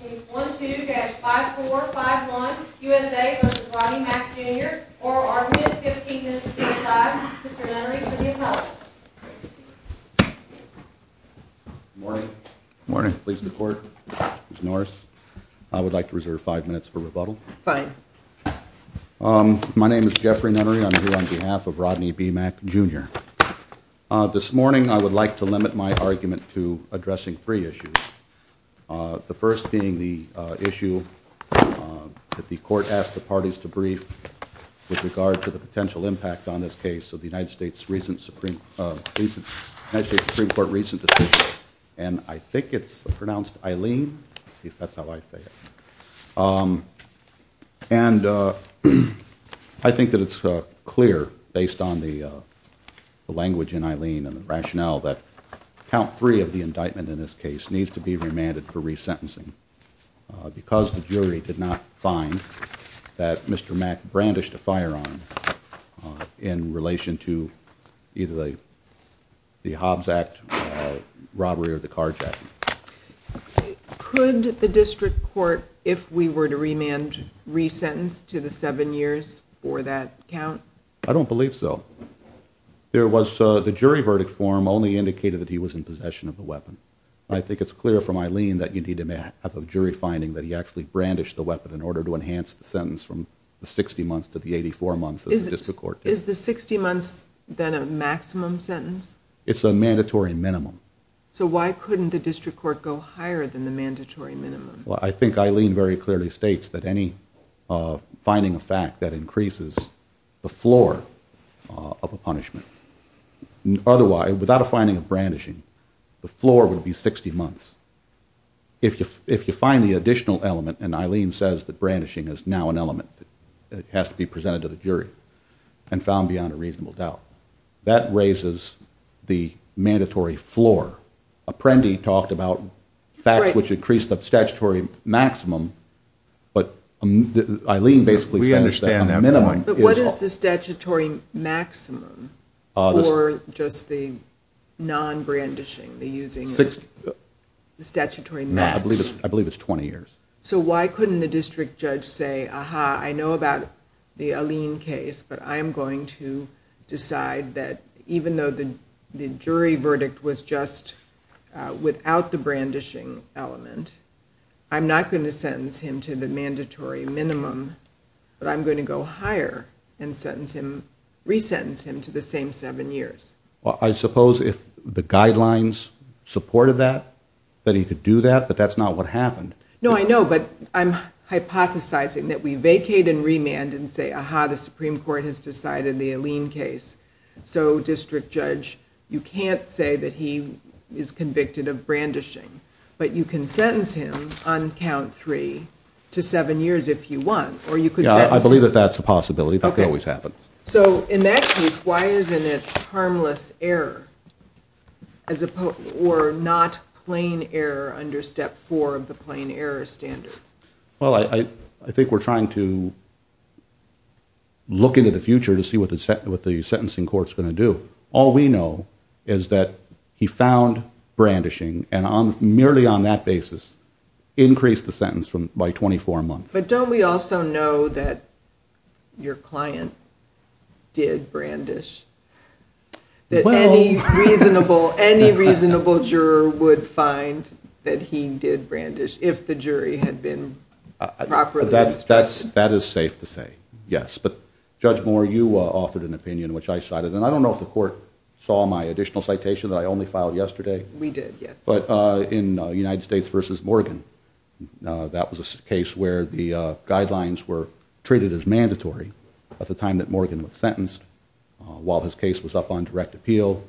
Case 12-5451, U.S.A. v. Rodney Mack Jr. Oral argument, 15 minutes to decide. Mr. Nunnery for the appellate. Morning. Morning. Please report. Ms. Norris, I would like to reserve five minutes for rebuttal. Fine. My name is Jeffrey Nunnery. I'm here on behalf of Rodney B. Mack Jr. This morning I would like to limit my argument to addressing three issues. The first being the issue that the court asked the parties to brief with regard to the potential impact on this case of the United States Supreme Court recent decision. And I think it's pronounced Eileen. At least that's how I say it. And I think that it's clear based on the language in Eileen and the rationale that count three of the indictment in this case needs to be remanded for resentencing because the jury did not find that Mr. Mack brandished a firearm in relation to either the Hobbs Act robbery or the carjacking. Could the district court, if we were to remand resentence to the seven years for that count? I don't believe so. The jury verdict form only indicated that he was in possession of the weapon. I think it's clear from Eileen that you need to have a jury finding that he actually brandished the weapon in order to enhance the sentence from the 60 months to the 84 months of the district court. Is the 60 months then a maximum sentence? It's a mandatory minimum. So why couldn't the district court go higher than the mandatory minimum? Well, I think Eileen very clearly states that any finding of fact that increases the floor of a punishment. Otherwise, without a finding of brandishing, the floor would be 60 months. If you find the additional element, and Eileen says that brandishing is now an element that has to be presented to the jury and found beyond a reasonable doubt. That raises the mandatory floor. Apprendi talked about facts which increase the statutory maximum. But Eileen basically says that a minimum is... But what is the statutory maximum for just the non-brandishing? The using the statutory max? No, I believe it's 20 years. So why couldn't the district judge say, Aha, I know about the Eileen case, but I am going to decide that even though the jury verdict was just without the brandishing element, I'm not going to sentence him to the mandatory minimum, but I'm going to go higher and resentence him to the same seven years. Well, I suppose if the guidelines supported that, that he could do that, but that's not what happened. No, I know, but I'm hypothesizing that we vacate and remand and say, Aha, the Supreme Court has decided the Eileen case. So, district judge, you can't say that he is convicted of brandishing, but you can sentence him on count three to seven years if you want. I believe that that's a possibility. That can always happen. So, in that case, why isn't it harmless error or not plain error under step four of the plain error standard? Well, I think we're trying to look into the future to see what the sentencing court is going to do. All we know is that he found brandishing, and merely on that basis increased the sentence by 24 months. But don't we also know that your client did brandish? Any reasonable juror would find that he did brandish if the jury had been properly respected. That is safe to say, yes. But, Judge Moore, you offered an opinion, which I cited, and I don't know if the court saw my additional citation that I only filed yesterday. We did, yes. But in United States v. Morgan, that was a case where the guidelines were treated as mandatory at the time that Morgan was sentenced. While his case was up on direct appeal,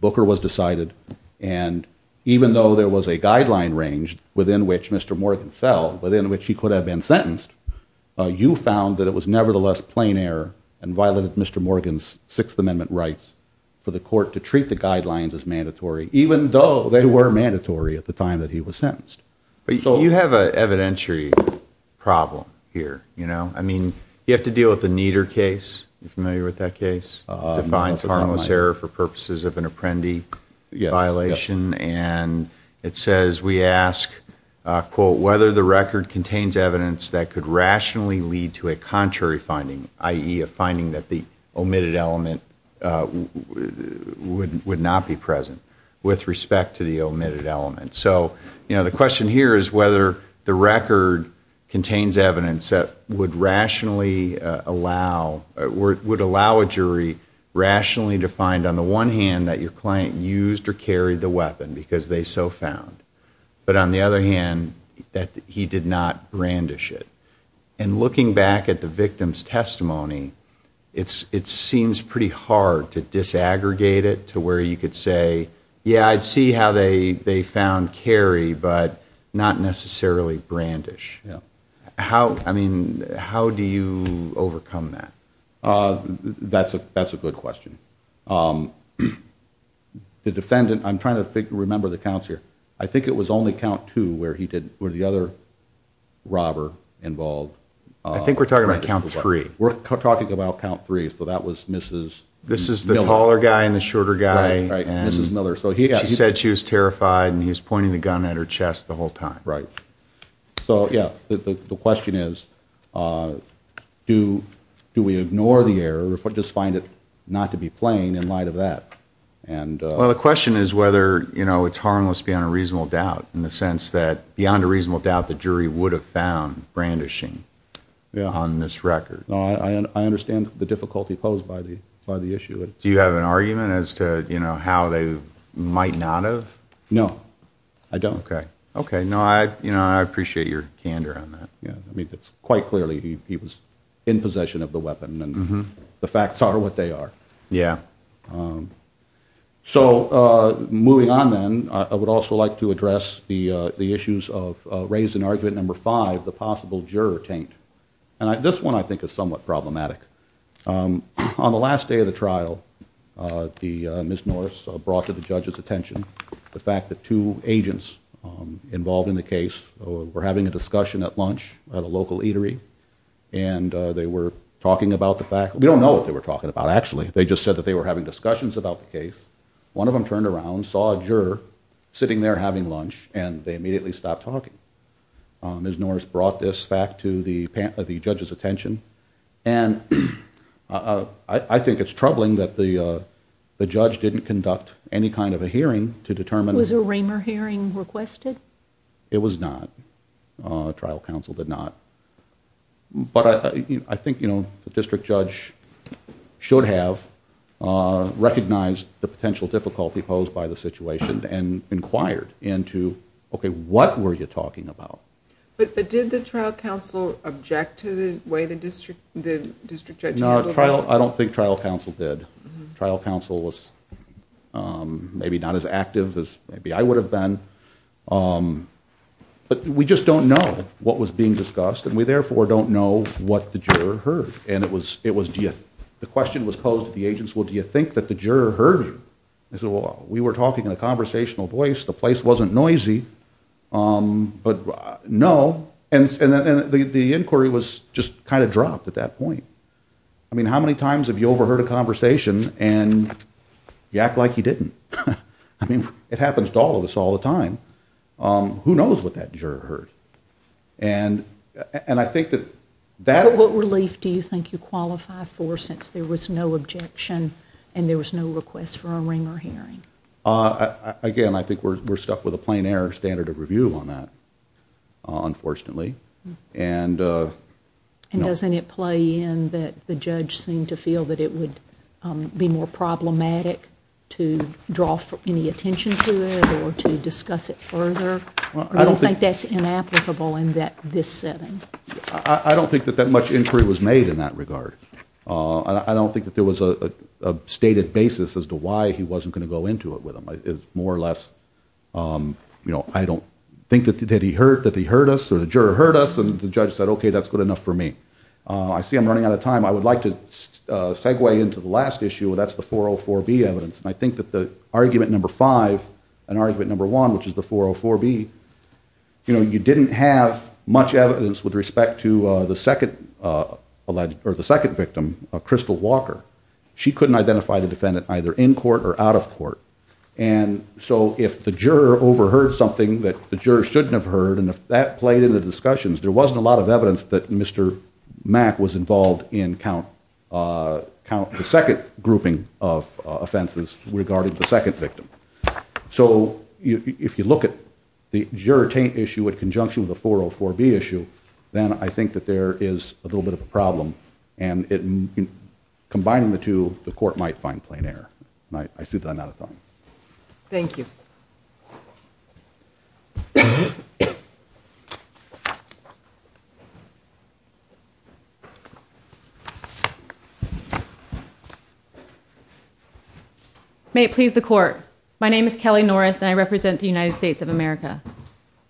Booker was decided, and even though there was a guideline range within which Mr. Morgan fell, within which he could have been sentenced, you found that it was nevertheless plain error and violated Mr. Morgan's Sixth Amendment rights for the court to treat the guidelines as mandatory, even though they were mandatory at the time that he was sentenced. But you have an evidentiary problem here, you know? I mean, you have to deal with the Nieder case. Are you familiar with that case? It defines harmless error for purposes of an apprendee violation, and it says we ask, quote, whether the record contains evidence that could rationally lead to a contrary finding, i.e., a finding that the omitted element would not be present with respect to the omitted element. So, you know, the question here is whether the record contains evidence that would rationally allow, would allow a jury rationally to find, on the one hand, that your client used or carried the weapon because they so found, but on the other hand, that he did not brandish it. And looking back at the victim's testimony, it seems pretty hard to disaggregate it to where you could say, yeah, I'd see how they found carry, but not necessarily brandish. How, I mean, how do you overcome that? That's a good question. The defendant, I'm trying to remember the counts here, I think it was only count two where he did, where the other robber involved. I think we're talking about count three. We're talking about count three, so that was Mrs. Miller. This is the taller guy and the shorter guy. Right, right, Mrs. Miller. She said she was terrified and he was pointing the gun at her chest the whole time. Right. So, yeah, the question is, do we ignore the error or just find it not to be plain in light of that? Well, the question is whether it's harmless beyond a reasonable doubt, in the sense that beyond a reasonable doubt the jury would have found brandishing on this record. I understand the difficulty posed by the issue. Do you have an argument as to how they might not have? No, I don't. Okay, no, I appreciate your candor on that. I mean, quite clearly he was in possession of the weapon, and the facts are what they are. Yeah. So moving on then, I would also like to address the issues of raised in argument number five, the possible juror taint. This one I think is somewhat problematic. On the last day of the trial, Ms. Norris brought to the judge's attention the fact that two agents involved in the case were having a discussion at lunch at a local eatery, and they were talking about the fact, we don't know what they were talking about, actually. They just said that they were having discussions about the case. One of them turned around, saw a juror sitting there having lunch, and they immediately stopped talking. Ms. Norris brought this fact to the judge's attention, and I think it's troubling that the judge didn't conduct any kind of a hearing to determine... Was a Raymer hearing requested? It was not. Trial counsel did not. But I think, you know, the district judge should have recognized the potential difficulty posed by the situation and inquired into, okay, what were you talking about? But did the trial counsel object to the way the district judge handled this? No, I don't think trial counsel did. Trial counsel was maybe not as active as maybe I would have been. But we just don't know what was being discussed, and we therefore don't know what the juror heard. And it was, the question was posed to the agents, well, do you think that the juror heard you? They said, well, we were talking in a conversational voice, the place wasn't noisy, but no. And the inquiry was just kind of dropped at that point. I mean, how many times have you overheard a conversation and you act like you didn't? I mean, it happens to all of us all the time. Who knows what that juror heard? And I think that that... What relief do you think you qualify for since there was no objection and there was no request for a Raymer hearing? Again, I think we're stuck with a plain error standard of review on that, unfortunately. And doesn't it play in that the judge seemed to feel that it would be more problematic to draw any attention to it or to discuss it further? Do you think that's inapplicable in this setting? I don't think that that much inquiry was made in that regard. I don't think that there was a stated basis as to why he wasn't going to go into it with them. It's more or less, you know, I don't think that he heard us or the juror heard us and the judge said, okay, that's good enough for me. I see I'm running out of time. I would like to segue into the last issue, and that's the 404B evidence. And I think that the argument number five and argument number one, which is the 404B, you know, you didn't have much evidence with respect to the second victim, Crystal Walker. She couldn't identify the defendant either in court or out of court. And so if the juror overheard something that the juror shouldn't have heard and if that played in the discussions, there wasn't a lot of evidence that Mr. Mack was involved in the second grouping of offenses regarding the second victim. So if you look at the juror taint issue in conjunction with the 404B issue, then I think that there is a little bit of a problem. And combining the two, the court might find plain error. And I see that I'm out of time. Thank you. May it please the court. My name is Kelly Norris and I represent the United States of America.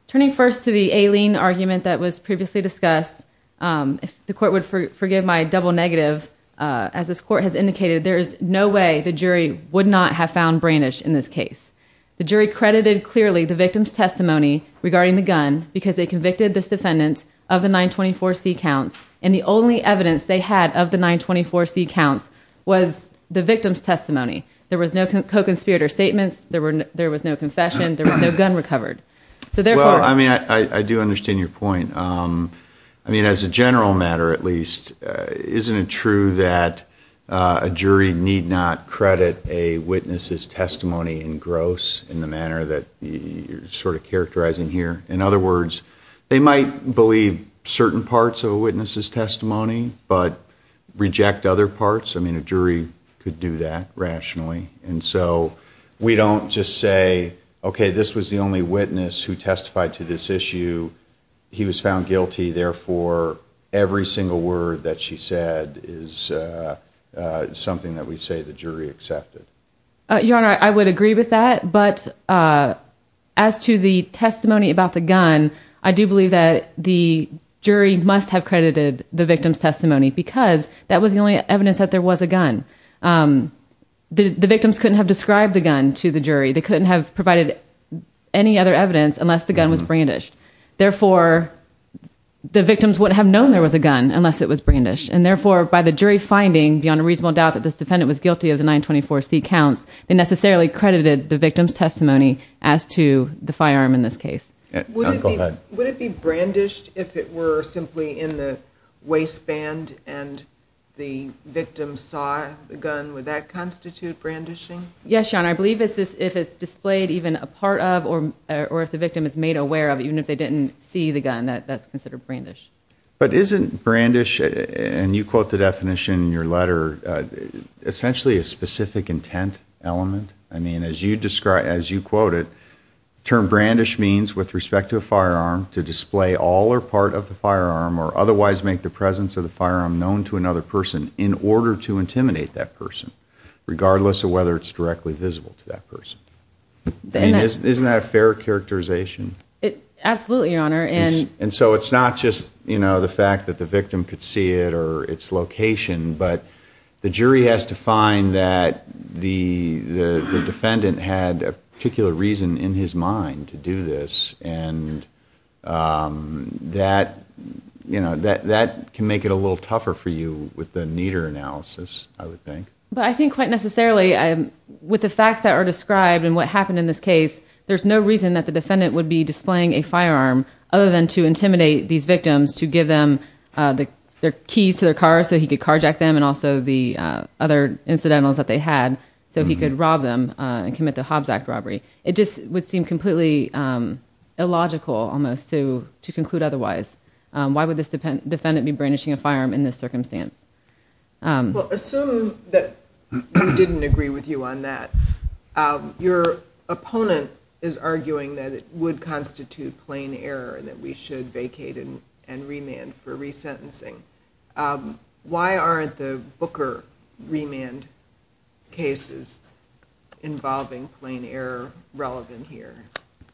Turning first to the Aileen argument that was previously discussed, if the court would forgive my double negative, as this court has indicated, there is no way the jury would not have found Branish in this case. The jury credited clearly the victim's testimony regarding the gun because they convicted this defendant of the 924C counts and the only evidence they had of the 924C counts was the victim's testimony. There was no co-conspirator statements. There was no confession. There was no gun recovered. Well, I mean, I do understand your point. I mean, as a general matter at least, isn't it true that a jury need not credit a witness's testimony in gross in the manner that you're sort of characterizing here? In other words, they might believe certain parts of a witness's testimony but reject other parts. I mean, a jury could do that rationally. And so we don't just say, okay, this was the only witness who testified to this issue. He was found guilty. Therefore, every single word that she said is something that we say the jury accepted. Your Honor, I would agree with that. But as to the testimony about the gun, I do believe that the jury must have credited the victim's testimony because that was the only evidence that there was a gun. The victims couldn't have described the gun to the jury. They couldn't have provided any other evidence unless the gun was brandished. Therefore, the victims wouldn't have known there was a gun unless it was brandished. And therefore, by the jury finding, beyond a reasonable doubt, that this defendant was guilty of the 924C counts, they necessarily credited the victim's testimony as to the firearm in this case. Would it be brandished if it were simply in the waistband and the victim saw the gun? Would that constitute brandishing? Yes, Your Honor. I believe if it's displayed even a part of or if the victim is made aware of even if they didn't see the gun, that's considered brandish. But isn't brandish, and you quote the definition in your letter, essentially a specific intent element? I mean, as you quote it, the term brandish means with respect to a firearm to display all or part of the firearm or otherwise make the presence of the firearm known to another person in order to intimidate that person, regardless of whether it's directly visible to that person. Isn't that a fair characterization? Absolutely, Your Honor. And so it's not just the fact that the victim could see it or its location, but the jury has to find that the defendant had a particular reason in his mind to do this, and that can make it a little tougher for you with a neater analysis, I would think. But I think quite necessarily with the facts that are described and what happened in this case, there's no reason that the defendant would be displaying a firearm other than to intimidate these victims to give them their keys to their car so he could carjack them and also the other incidentals that they had so he could rob them and commit the Hobbs Act robbery. It just would seem completely illogical almost to conclude otherwise. Why would this defendant be brandishing a firearm in this circumstance? Well, assume that we didn't agree with you on that. Your opponent is arguing that it would constitute plain error and that we should vacate and remand for resentencing. Why aren't the Booker remand cases involving plain error relevant here?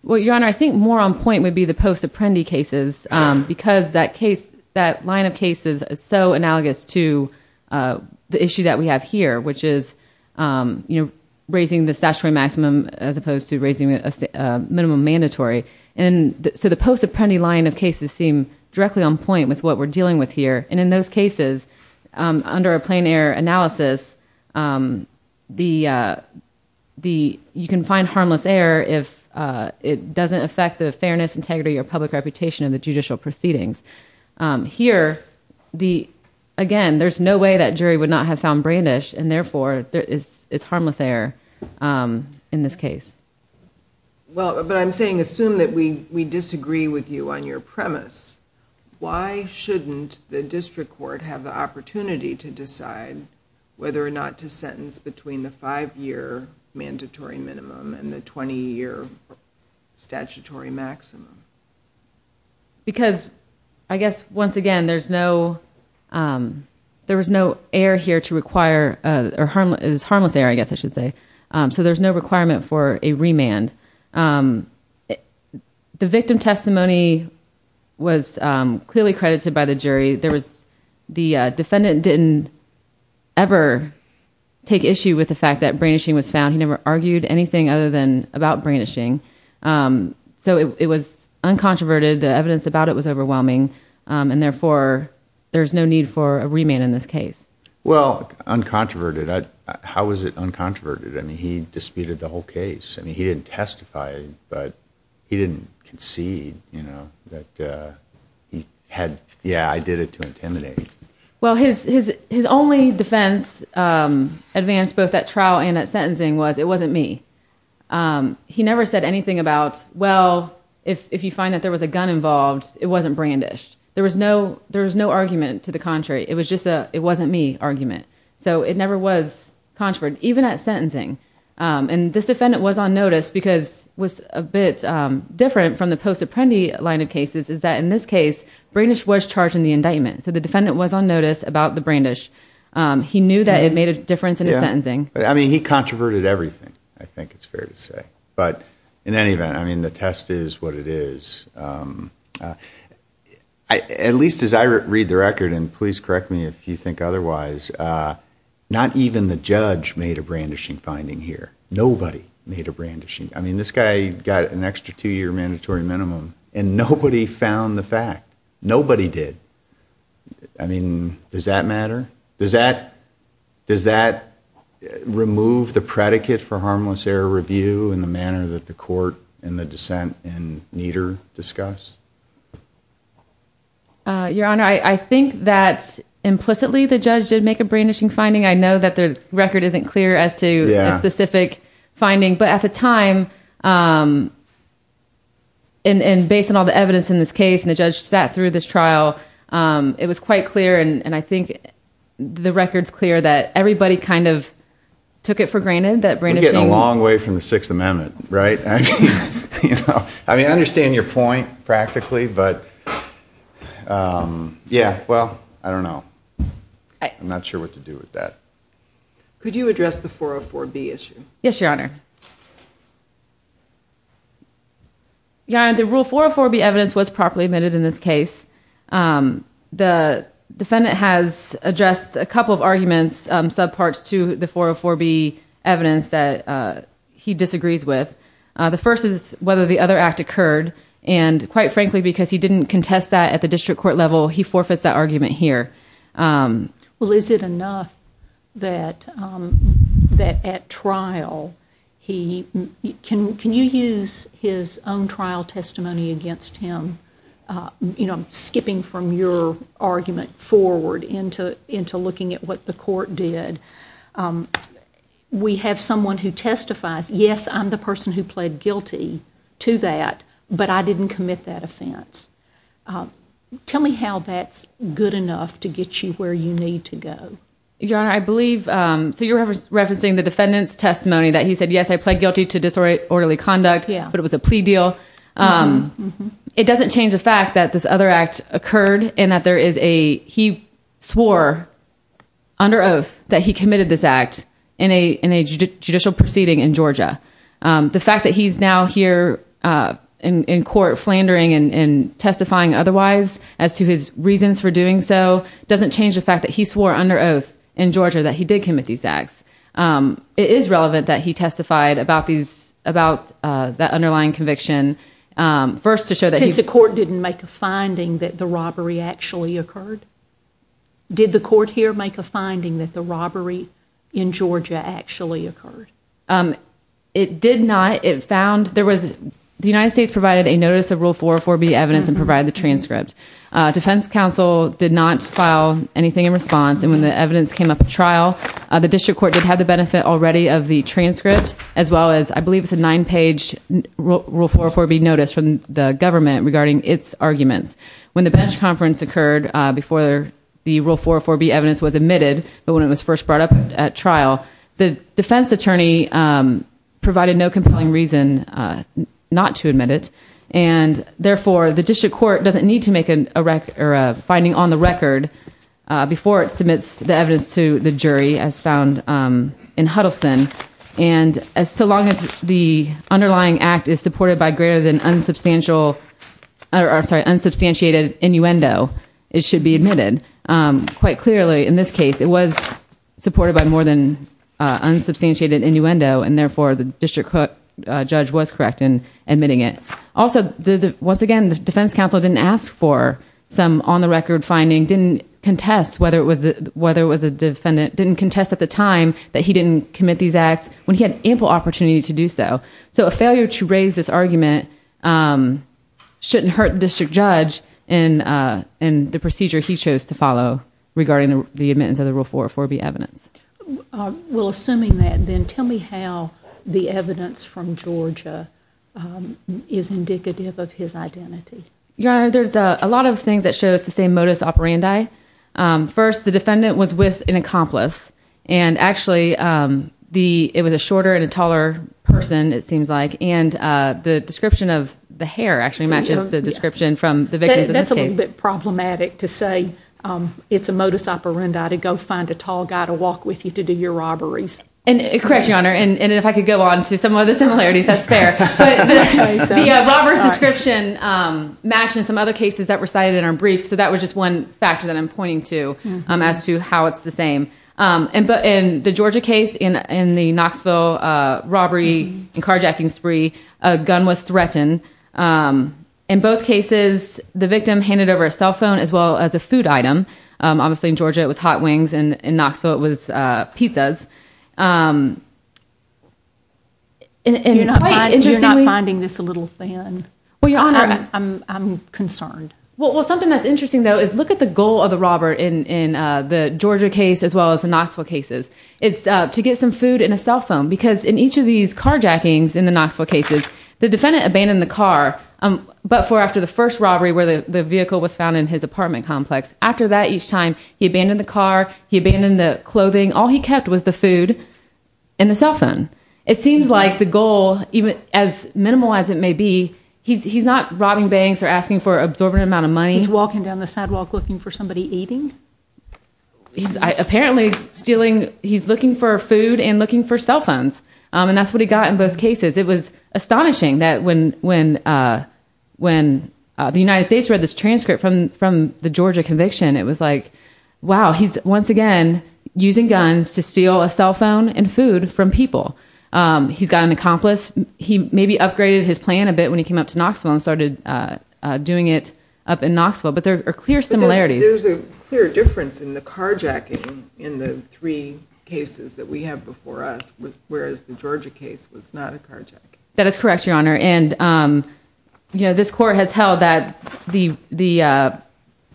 Well, Your Honor, I think more on point would be the post-Apprendi cases because that line of cases is so analogous to the issue that we have here, which is raising the statutory maximum as opposed to raising a minimum mandatory. So the post-Apprendi line of cases seem directly on point with what we're dealing with here. And in those cases, under a plain error analysis, you can find harmless error if it doesn't affect the fairness, integrity, or public reputation of the judicial proceedings. Here, again, there's no way that jury would not have found brandish and therefore it's harmless error in this case. But I'm saying assume that we disagree with you on your premise. Why shouldn't the district court have the opportunity to decide whether or not to sentence between the five-year mandatory minimum and the 20-year statutory maximum? Because, I guess, once again, there's no error here to require— it's harmless error, I guess I should say. So there's no requirement for a remand. The victim testimony was clearly credited by the jury. The defendant didn't ever take issue with the fact that brandishing was found. He never argued anything other than about brandishing. So it was uncontroverted. The evidence about it was overwhelming. And therefore, there's no need for a remand in this case. Well, uncontroverted. How is it uncontroverted? I mean, he disputed the whole case. I mean, he didn't testify, but he didn't concede, you know, that he had—yeah, I did it to intimidate. Well, his only defense advance, both at trial and at sentencing, was it wasn't me. He never said anything about, well, if you find that there was a gun involved, it wasn't brandished. There was no argument to the contrary. It was just a, it wasn't me, argument. So it never was controverted, even at sentencing. And this defendant was on notice, because what's a bit different from the post-Apprendi line of cases is that in this case, brandish was charged in the indictment. So the defendant was on notice about the brandish. He knew that it made a difference in his sentencing. I mean, he controverted everything, I think it's fair to say. But in any event, I mean, the test is what it is. At least as I read the record, and please correct me if you think otherwise, not even the judge made a brandishing finding here. Nobody made a brandishing. I mean, this guy got an extra two-year mandatory minimum, and nobody found the fact. Nobody did. I mean, does that matter? Does that, does that remove the predicate for harmless error review in the manner that the court and the dissent in Nieder discuss? Your Honor, I think that implicitly the judge did make a brandishing finding. I know that the record isn't clear as to a specific finding. But at the time, and based on all the evidence in this case, and the judge sat through this trial, it was quite clear, and I think the record's clear, that everybody kind of took it for granted that brandishing... We're getting a long way from the Sixth Amendment, right? I mean, I understand your point, practically, but... Yeah, well, I don't know. I'm not sure what to do with that. Could you address the 404B issue? Yes, Your Honor. Your Honor, the Rule 404B evidence was properly admitted in this case. The defendant has addressed a couple of arguments, subparts to the 404B evidence that he disagrees with. The first is whether the other act occurred, and quite frankly because he didn't contest that at the district court level, he forfeits that argument here. Well, is it enough that at trial he... Can you use his own trial testimony against him? I'm skipping from your argument forward into looking at what the court did. We have someone who testifies. Yes, I'm the person who pled guilty to that, but I didn't commit that offense. Tell me how that's good enough to get you where you need to go. Your Honor, I believe... So you're referencing the defendant's testimony, that he said, yes, I pled guilty to disorderly conduct, but it was a plea deal. It doesn't change the fact that this other act occurred and that there is a... He swore under oath that he committed this act in a judicial proceeding in Georgia. The fact that he's now here in court flandering and testifying otherwise as to his reasons for doing so doesn't change the fact that he swore under oath in Georgia that he did commit these acts. It is relevant that he testified about that underlying conviction, first to show that he... Since the court didn't make a finding that the robbery actually occurred? Did the court here make a finding that the robbery in Georgia actually occurred? It did not. It found... The United States provided a notice of Rule 404B evidence and provided the transcript. Defense counsel did not file anything in response, and when the evidence came up at trial, the district court did have the benefit already of the transcript as well as, I believe, it's a nine-page Rule 404B notice from the government regarding its arguments. When the bench conference occurred before the Rule 404B evidence was admitted, but when it was first brought up at trial, the defense attorney provided no compelling reason not to admit it, and therefore the district court doesn't need to make a finding on the record before it submits the evidence to the jury as found in Huddleston. And so long as the underlying act is supported by greater than unsubstantial... I'm sorry, unsubstantiated innuendo, it should be admitted. Quite clearly, in this case, it was supported by more than unsubstantiated innuendo, and therefore the district court judge was correct in admitting it. Also, once again, the defense counsel didn't ask for some on-the-record finding, didn't contest whether it was a defendant, didn't contest at the time that he didn't commit these acts when he had ample opportunity to do so. So a failure to raise this argument shouldn't hurt the district judge in the procedure he chose to follow regarding the admittance of the Rule 404B evidence. Well, assuming that, then tell me how the evidence from Georgia is indicative of his identity. Your Honor, there's a lot of things that show it's the same modus operandi. First, the defendant was with an accomplice, and actually it was a shorter and a taller person, it seems like, and the description of the hair actually matches the description from the victim. That's a little bit problematic to say it's a modus operandi to go find a tall guy to walk with you to do your robberies. Correct, Your Honor, and if I could go on to some other similarities, that's fair. But the robber's description matches some other cases that were cited in our brief, so that was just one factor that I'm pointing to as to how it's the same. In the Georgia case, in the Knoxville robbery and carjacking spree, a gun was threatened. In both cases, the victim handed over a cell phone as well as a food item. Obviously in Georgia it was hot wings, and in Knoxville it was pizzas. You're not finding this a little thin? Well, Your Honor, I'm concerned. Well, something that's interesting though is look at the goal of the robber in the Georgia case as well as the Knoxville cases. It's to get some food and a cell phone because in each of these carjackings in the Knoxville cases, the defendant abandoned the car, but for after the first robbery where the vehicle was found in his apartment complex. After that each time, he abandoned the car, he abandoned the clothing. All he kept was the food and the cell phone. It seems like the goal, as minimal as it may be, He's walking down the sidewalk looking for somebody eating? Apparently he's looking for food and looking for cell phones, and that's what he got in both cases. It was astonishing that when the United States read this transcript from the Georgia conviction, it was like, wow, he's once again using guns to steal a cell phone and food from people. He's got an accomplice. He maybe upgraded his plan a bit when he came up to Knoxville and started doing it up in Knoxville, but there are clear similarities. There's a clear difference in the carjacking in the three cases that we have before us, whereas the Georgia case was not a carjacking. That is correct, Your Honor. This court has held that the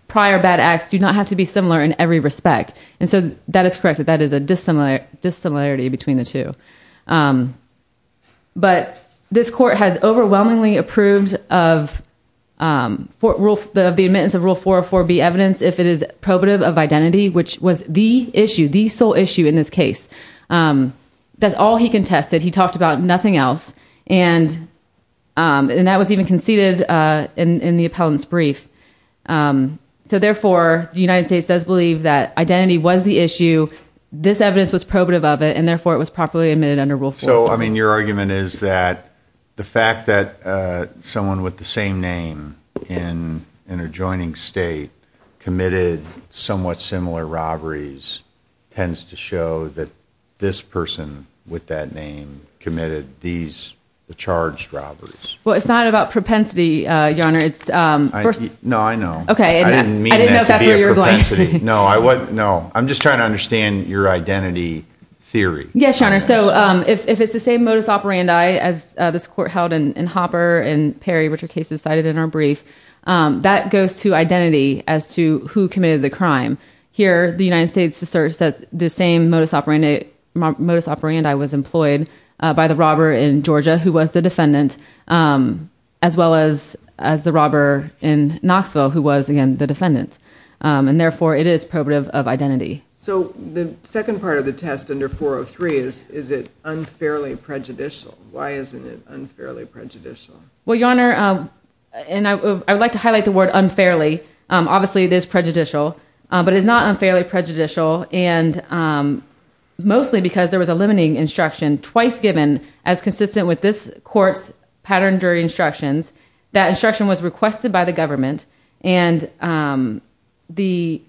prior bad acts do not have to be similar in every respect, and so that is correct. That is a dissimilarity between the two. But this court has overwhelmingly approved of the admittance of Rule 404B evidence if it is probative of identity, which was the issue, the sole issue in this case. That's all he contested. He talked about nothing else, and that was even conceded in the appellant's brief. So therefore, the United States does believe that identity was the issue, this evidence was probative of it, and therefore it was properly admitted under Rule 404B. So, I mean, your argument is that the fact that someone with the same name in an adjoining state committed somewhat similar robberies tends to show that this person with that name committed these charged robberies. Well, it's not about propensity, Your Honor. No, I know. I didn't mean that to be a propensity. No, I'm just trying to understand your identity theory. Yes, Your Honor. So if it's the same modus operandi as this court held in Hopper and Perry, which are cases cited in our brief, that goes to identity as to who committed the crime. Here, the United States asserts that the same modus operandi was employed by the robber in Georgia, who was the defendant, as well as the robber in Knoxville, who was, again, the defendant. And therefore, it is probative of identity. So the second part of the test under 403 is, is it unfairly prejudicial? Why isn't it unfairly prejudicial? Well, Your Honor, and I would like to highlight the word unfairly. Obviously, it is prejudicial, but it is not unfairly prejudicial, and mostly because there was a limiting instruction twice given as consistent with this court's pattern jury instructions. That instruction was requested by the government, and the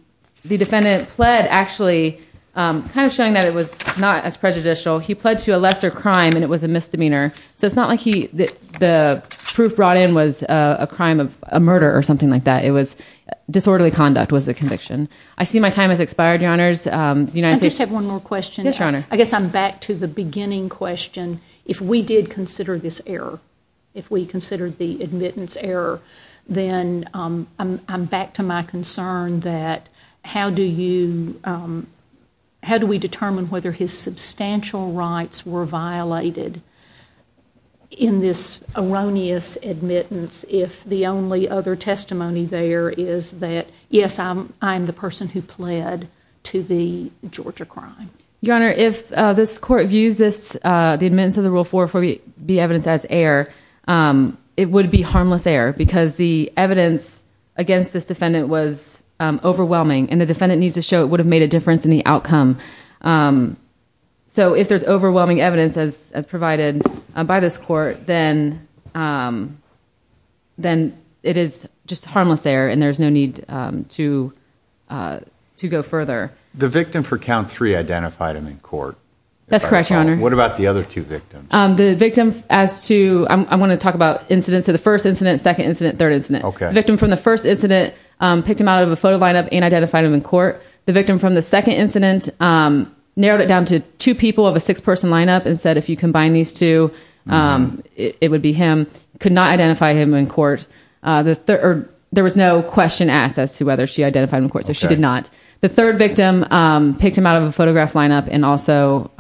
defendant pled actually, kind of showing that it was not as prejudicial. He pled to a lesser crime, and it was a misdemeanor. So it's not like the proof brought in was a crime of a murder or something like that. It was disorderly conduct was the conviction. I see my time has expired, Your Honors. I just have one more question. Yes, Your Honor. I guess I'm back to the beginning question. If we did consider this error, if we considered the admittance error, then I'm back to my concern that how do we determine whether his substantial rights were violated in this erroneous admittance if the only other testimony there is that, yes, I am the person who pled to the Georgia crime? Your Honor, if this court views the admittance of the Rule 404B as error, it would be harmless error, because the evidence against this defendant was overwhelming, and the defendant needs to show it would have made a difference in the outcome. So if there's overwhelming evidence as provided by this court, then it is just harmless error, and there's no need to go further. The victim for count three identified him in court. That's correct, Your Honor. What about the other two victims? I want to talk about incidents. So the first incident, second incident, third incident. The victim from the first incident picked him out of a photo lineup and identified him in court. The victim from the second incident narrowed it down to two people of a six-person lineup and said, if you combine these two, it would be him, could not identify him in court. There was no question asked as to whether she identified him in court, so she did not. The third victim picked him out of a photograph lineup and also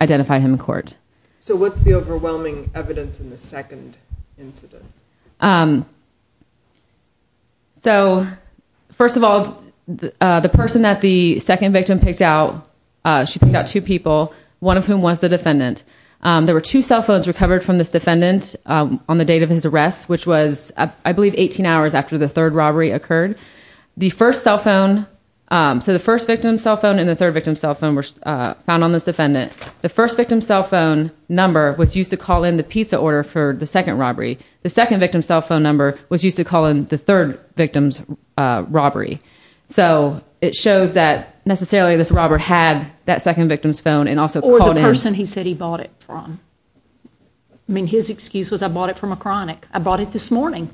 identified him in court. So what's the overwhelming evidence in the second incident? So first of all, the person that the second victim picked out, she picked out two people, one of whom was the defendant. There were two cell phones recovered from this defendant on the date of his arrest, which was, I believe, 18 hours after the third robbery occurred. The first cell phone, so the first victim's cell phone and the third victim's cell phone were found on this defendant. The first victim's cell phone number was used to call in the pizza order for the second robbery. The second victim's cell phone number was used to call in the third victim's robbery. So it shows that necessarily this robber had that second victim's phone and also called in. Or the person he said he bought it from. I mean, his excuse was, I bought it from a chronic. I bought it this morning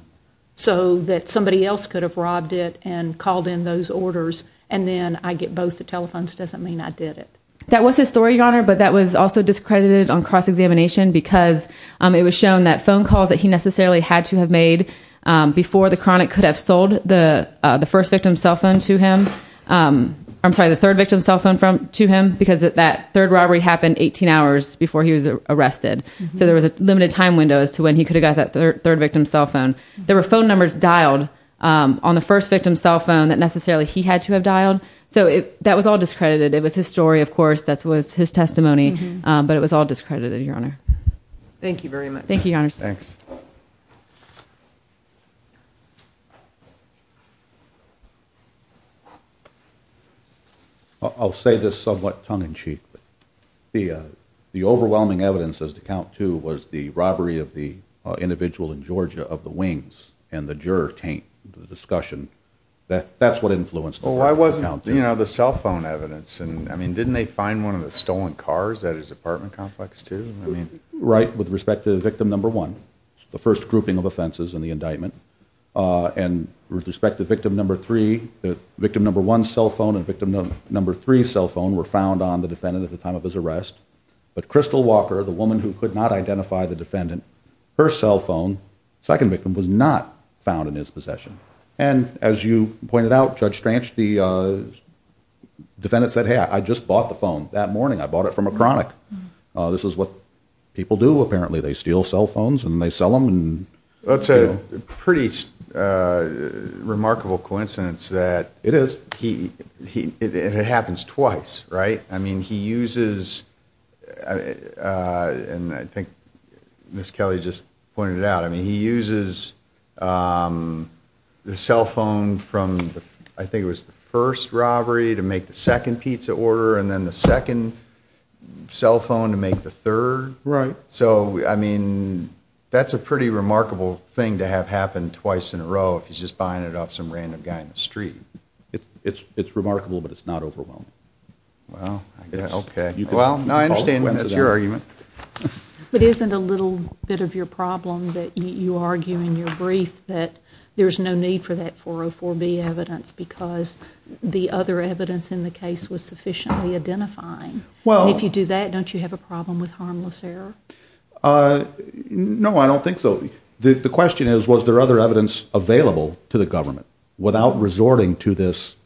so that somebody else could have robbed it and called in those orders. And then I get both the telephones doesn't mean I did it. That was his story, Your Honor, but that was also discredited on cross-examination because it was shown that phone calls that he necessarily had to have made before the chronic could have sold the third victim's cell phone to him because that third robbery happened 18 hours before he was arrested. So there was a limited time window as to when he could have got that third victim's cell phone. There were phone numbers dialed on the first victim's cell phone that necessarily he had to have dialed. So that was all discredited. It was his story, of course. That was his testimony. But it was all discredited, Your Honor. Thank you very much. Thank you, Your Honor. Thanks. I'll say this somewhat tongue-in-cheek. The overwhelming evidence as to count two was the robbery of the individual in Georgia of the wings and the juror taint, the discussion. That's what influenced the count. Well, why wasn't, you know, the cell phone evidence? And, I mean, didn't they find one of the stolen cars at his apartment complex, too? Right, with respect to victim number one, the first grouping of offenses in the indictment. And with respect to victim number three, victim number one's cell phone and victim number three's cell phone were found on the defendant at the time of his arrest. But Crystal Walker, the woman who could not identify the defendant, her cell phone, second victim, was not found in his possession. And as you pointed out, Judge Stranch, the defendant said, hey, I just bought the phone that morning. I bought it from a chronic. This is what people do, apparently. They steal cell phones and they sell them. That's a pretty remarkable coincidence that it happens twice, right? I mean, he uses, and I think Ms. Kelly just pointed it out, I mean, he uses the cell phone from, I think it was the first robbery to make the second pizza order, and then the second cell phone to make the third. Right. So, I mean, that's a pretty remarkable thing to have happen twice in a row, if he's just buying it off some random guy in the street. It's remarkable, but it's not overwhelming. Well, I guess. Okay. Well, now I understand that's your argument. But isn't a little bit of your problem that you argue in your brief that there's no need for that 404B evidence because the other evidence in the case was sufficiently identifying? Well. And if you do that, don't you have a problem with harmless error? No, I don't think so. The question is, was there other evidence available to the government without resorting to this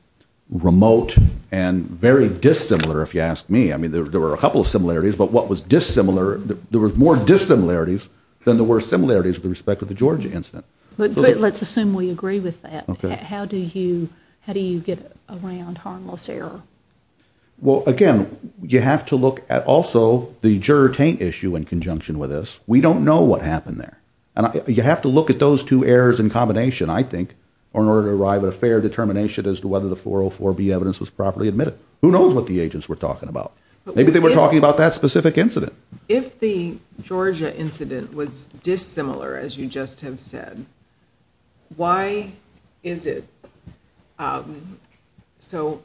remote and very dissimilar, if you ask me. I mean, there were a couple of similarities, but what was dissimilar, there were more dissimilarities than there were similarities with respect to the Georgia incident. But let's assume we agree with that. How do you get around harmless error? Well, again, you have to look at also the juror-taint issue in conjunction with this. We don't know what happened there. You have to look at those two errors in combination, I think, in order to arrive at a fair determination as to whether the 404B evidence was properly admitted. Who knows what the agents were talking about? Maybe they were talking about that specific incident. If the Georgia incident was dissimilar, as you just have said, why is it so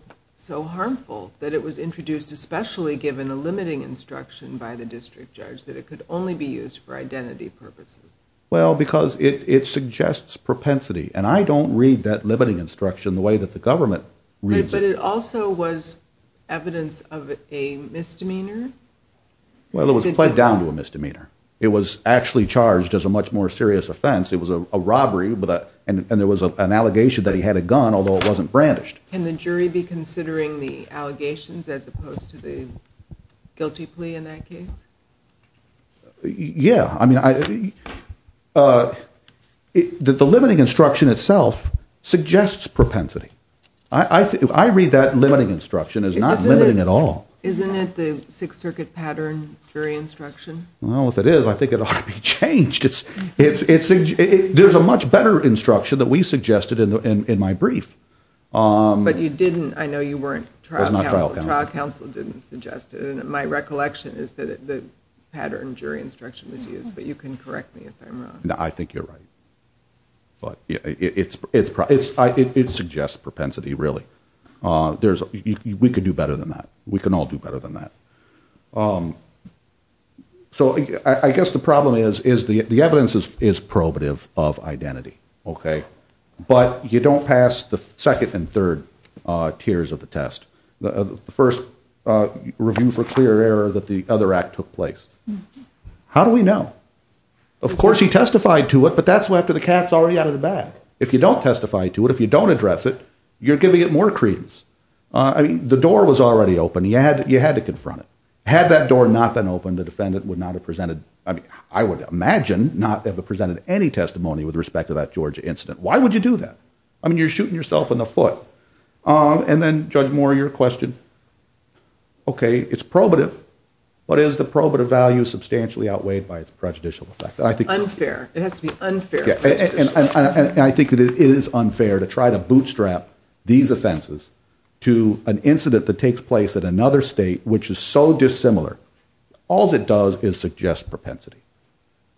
harmful that it was introduced, especially given a limiting instruction by the district judge, that it could only be used for identity purposes? Well, because it suggests propensity, and I don't read that limiting instruction the way that the government reads it. But it also was evidence of a misdemeanor? Well, it was played down to a misdemeanor. It was actually charged as a much more serious offense. It was a robbery, and there was an allegation that he had a gun, although it wasn't brandished. Can the jury be considering the allegations as opposed to the guilty plea in that case? Yeah. The limiting instruction itself suggests propensity. I read that limiting instruction as not limiting at all. Isn't it the Sixth Circuit pattern jury instruction? Well, if it is, I think it ought to be changed. There's a much better instruction that we suggested in my brief. But you didn't. I know you weren't trial counsel. I was not trial counsel. My assumption is that the pattern jury instruction was used, but you can correct me if I'm wrong. No, I think you're right. But it suggests propensity, really. We could do better than that. We can all do better than that. So I guess the problem is the evidence is probative of identity, okay? But you don't pass the second and third tiers of the test. The first review for clear error that the other act took place. How do we know? Of course, he testified to it, but that's after the cat's already out of the bag. If you don't testify to it, if you don't address it, you're giving it more credence. I mean, the door was already open. You had to confront it. Had that door not been open, the defendant would not have presented, I mean, I would imagine not have presented any testimony with respect to that Georgia incident. Why would you do that? I mean, you're shooting yourself in the foot. And then, Judge Moore, your question. Okay, it's probative, but is the probative value substantially outweighed by its prejudicial effect? Unfair. It has to be unfair. And I think that it is unfair to try to bootstrap these offenses to an incident that takes place at another state which is so dissimilar. All it does is suggest propensity.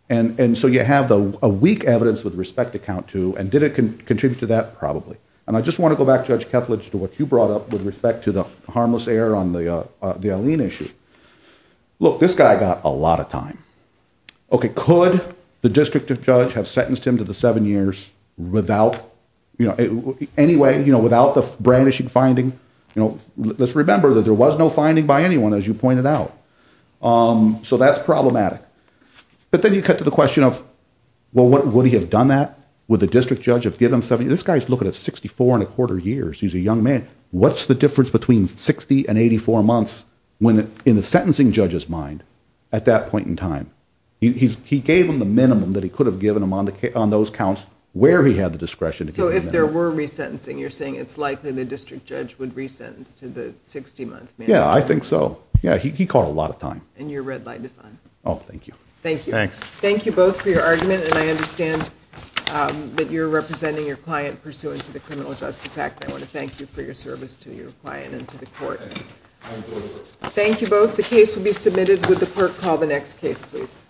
And so you have a weak evidence with respect to count two, and did it contribute to that? Probably. And I just want to go back, Judge Ketledge, to what you brought up with respect to the harmless error on the Alene issue. Look, this guy got a lot of time. Okay, could the district judge have sentenced him to the seven years without the brandishing finding? Let's remember that there was no finding by anyone, as you pointed out. So that's problematic. But then you cut to the question of, well, would he have done that? Would the district judge have given him seven years? This guy is looking at 64 and a quarter years. He's a young man. What's the difference between 60 and 84 months in the sentencing judge's mind at that point in time? He gave him the minimum that he could have given him on those counts where he had the discretion. So if there were resentencing, you're saying it's likely the district judge would resentence to the 60-month minimum? Yeah, I think so. Yeah, he caught a lot of time. And your red light is on. Oh, thank you. Thank you. Thanks. Thank you for your argument, and I understand that you're representing your client pursuant to the Criminal Justice Act. I want to thank you for your service to your client and to the court. Thank you both. The case will be submitted with the court call. The next case, please.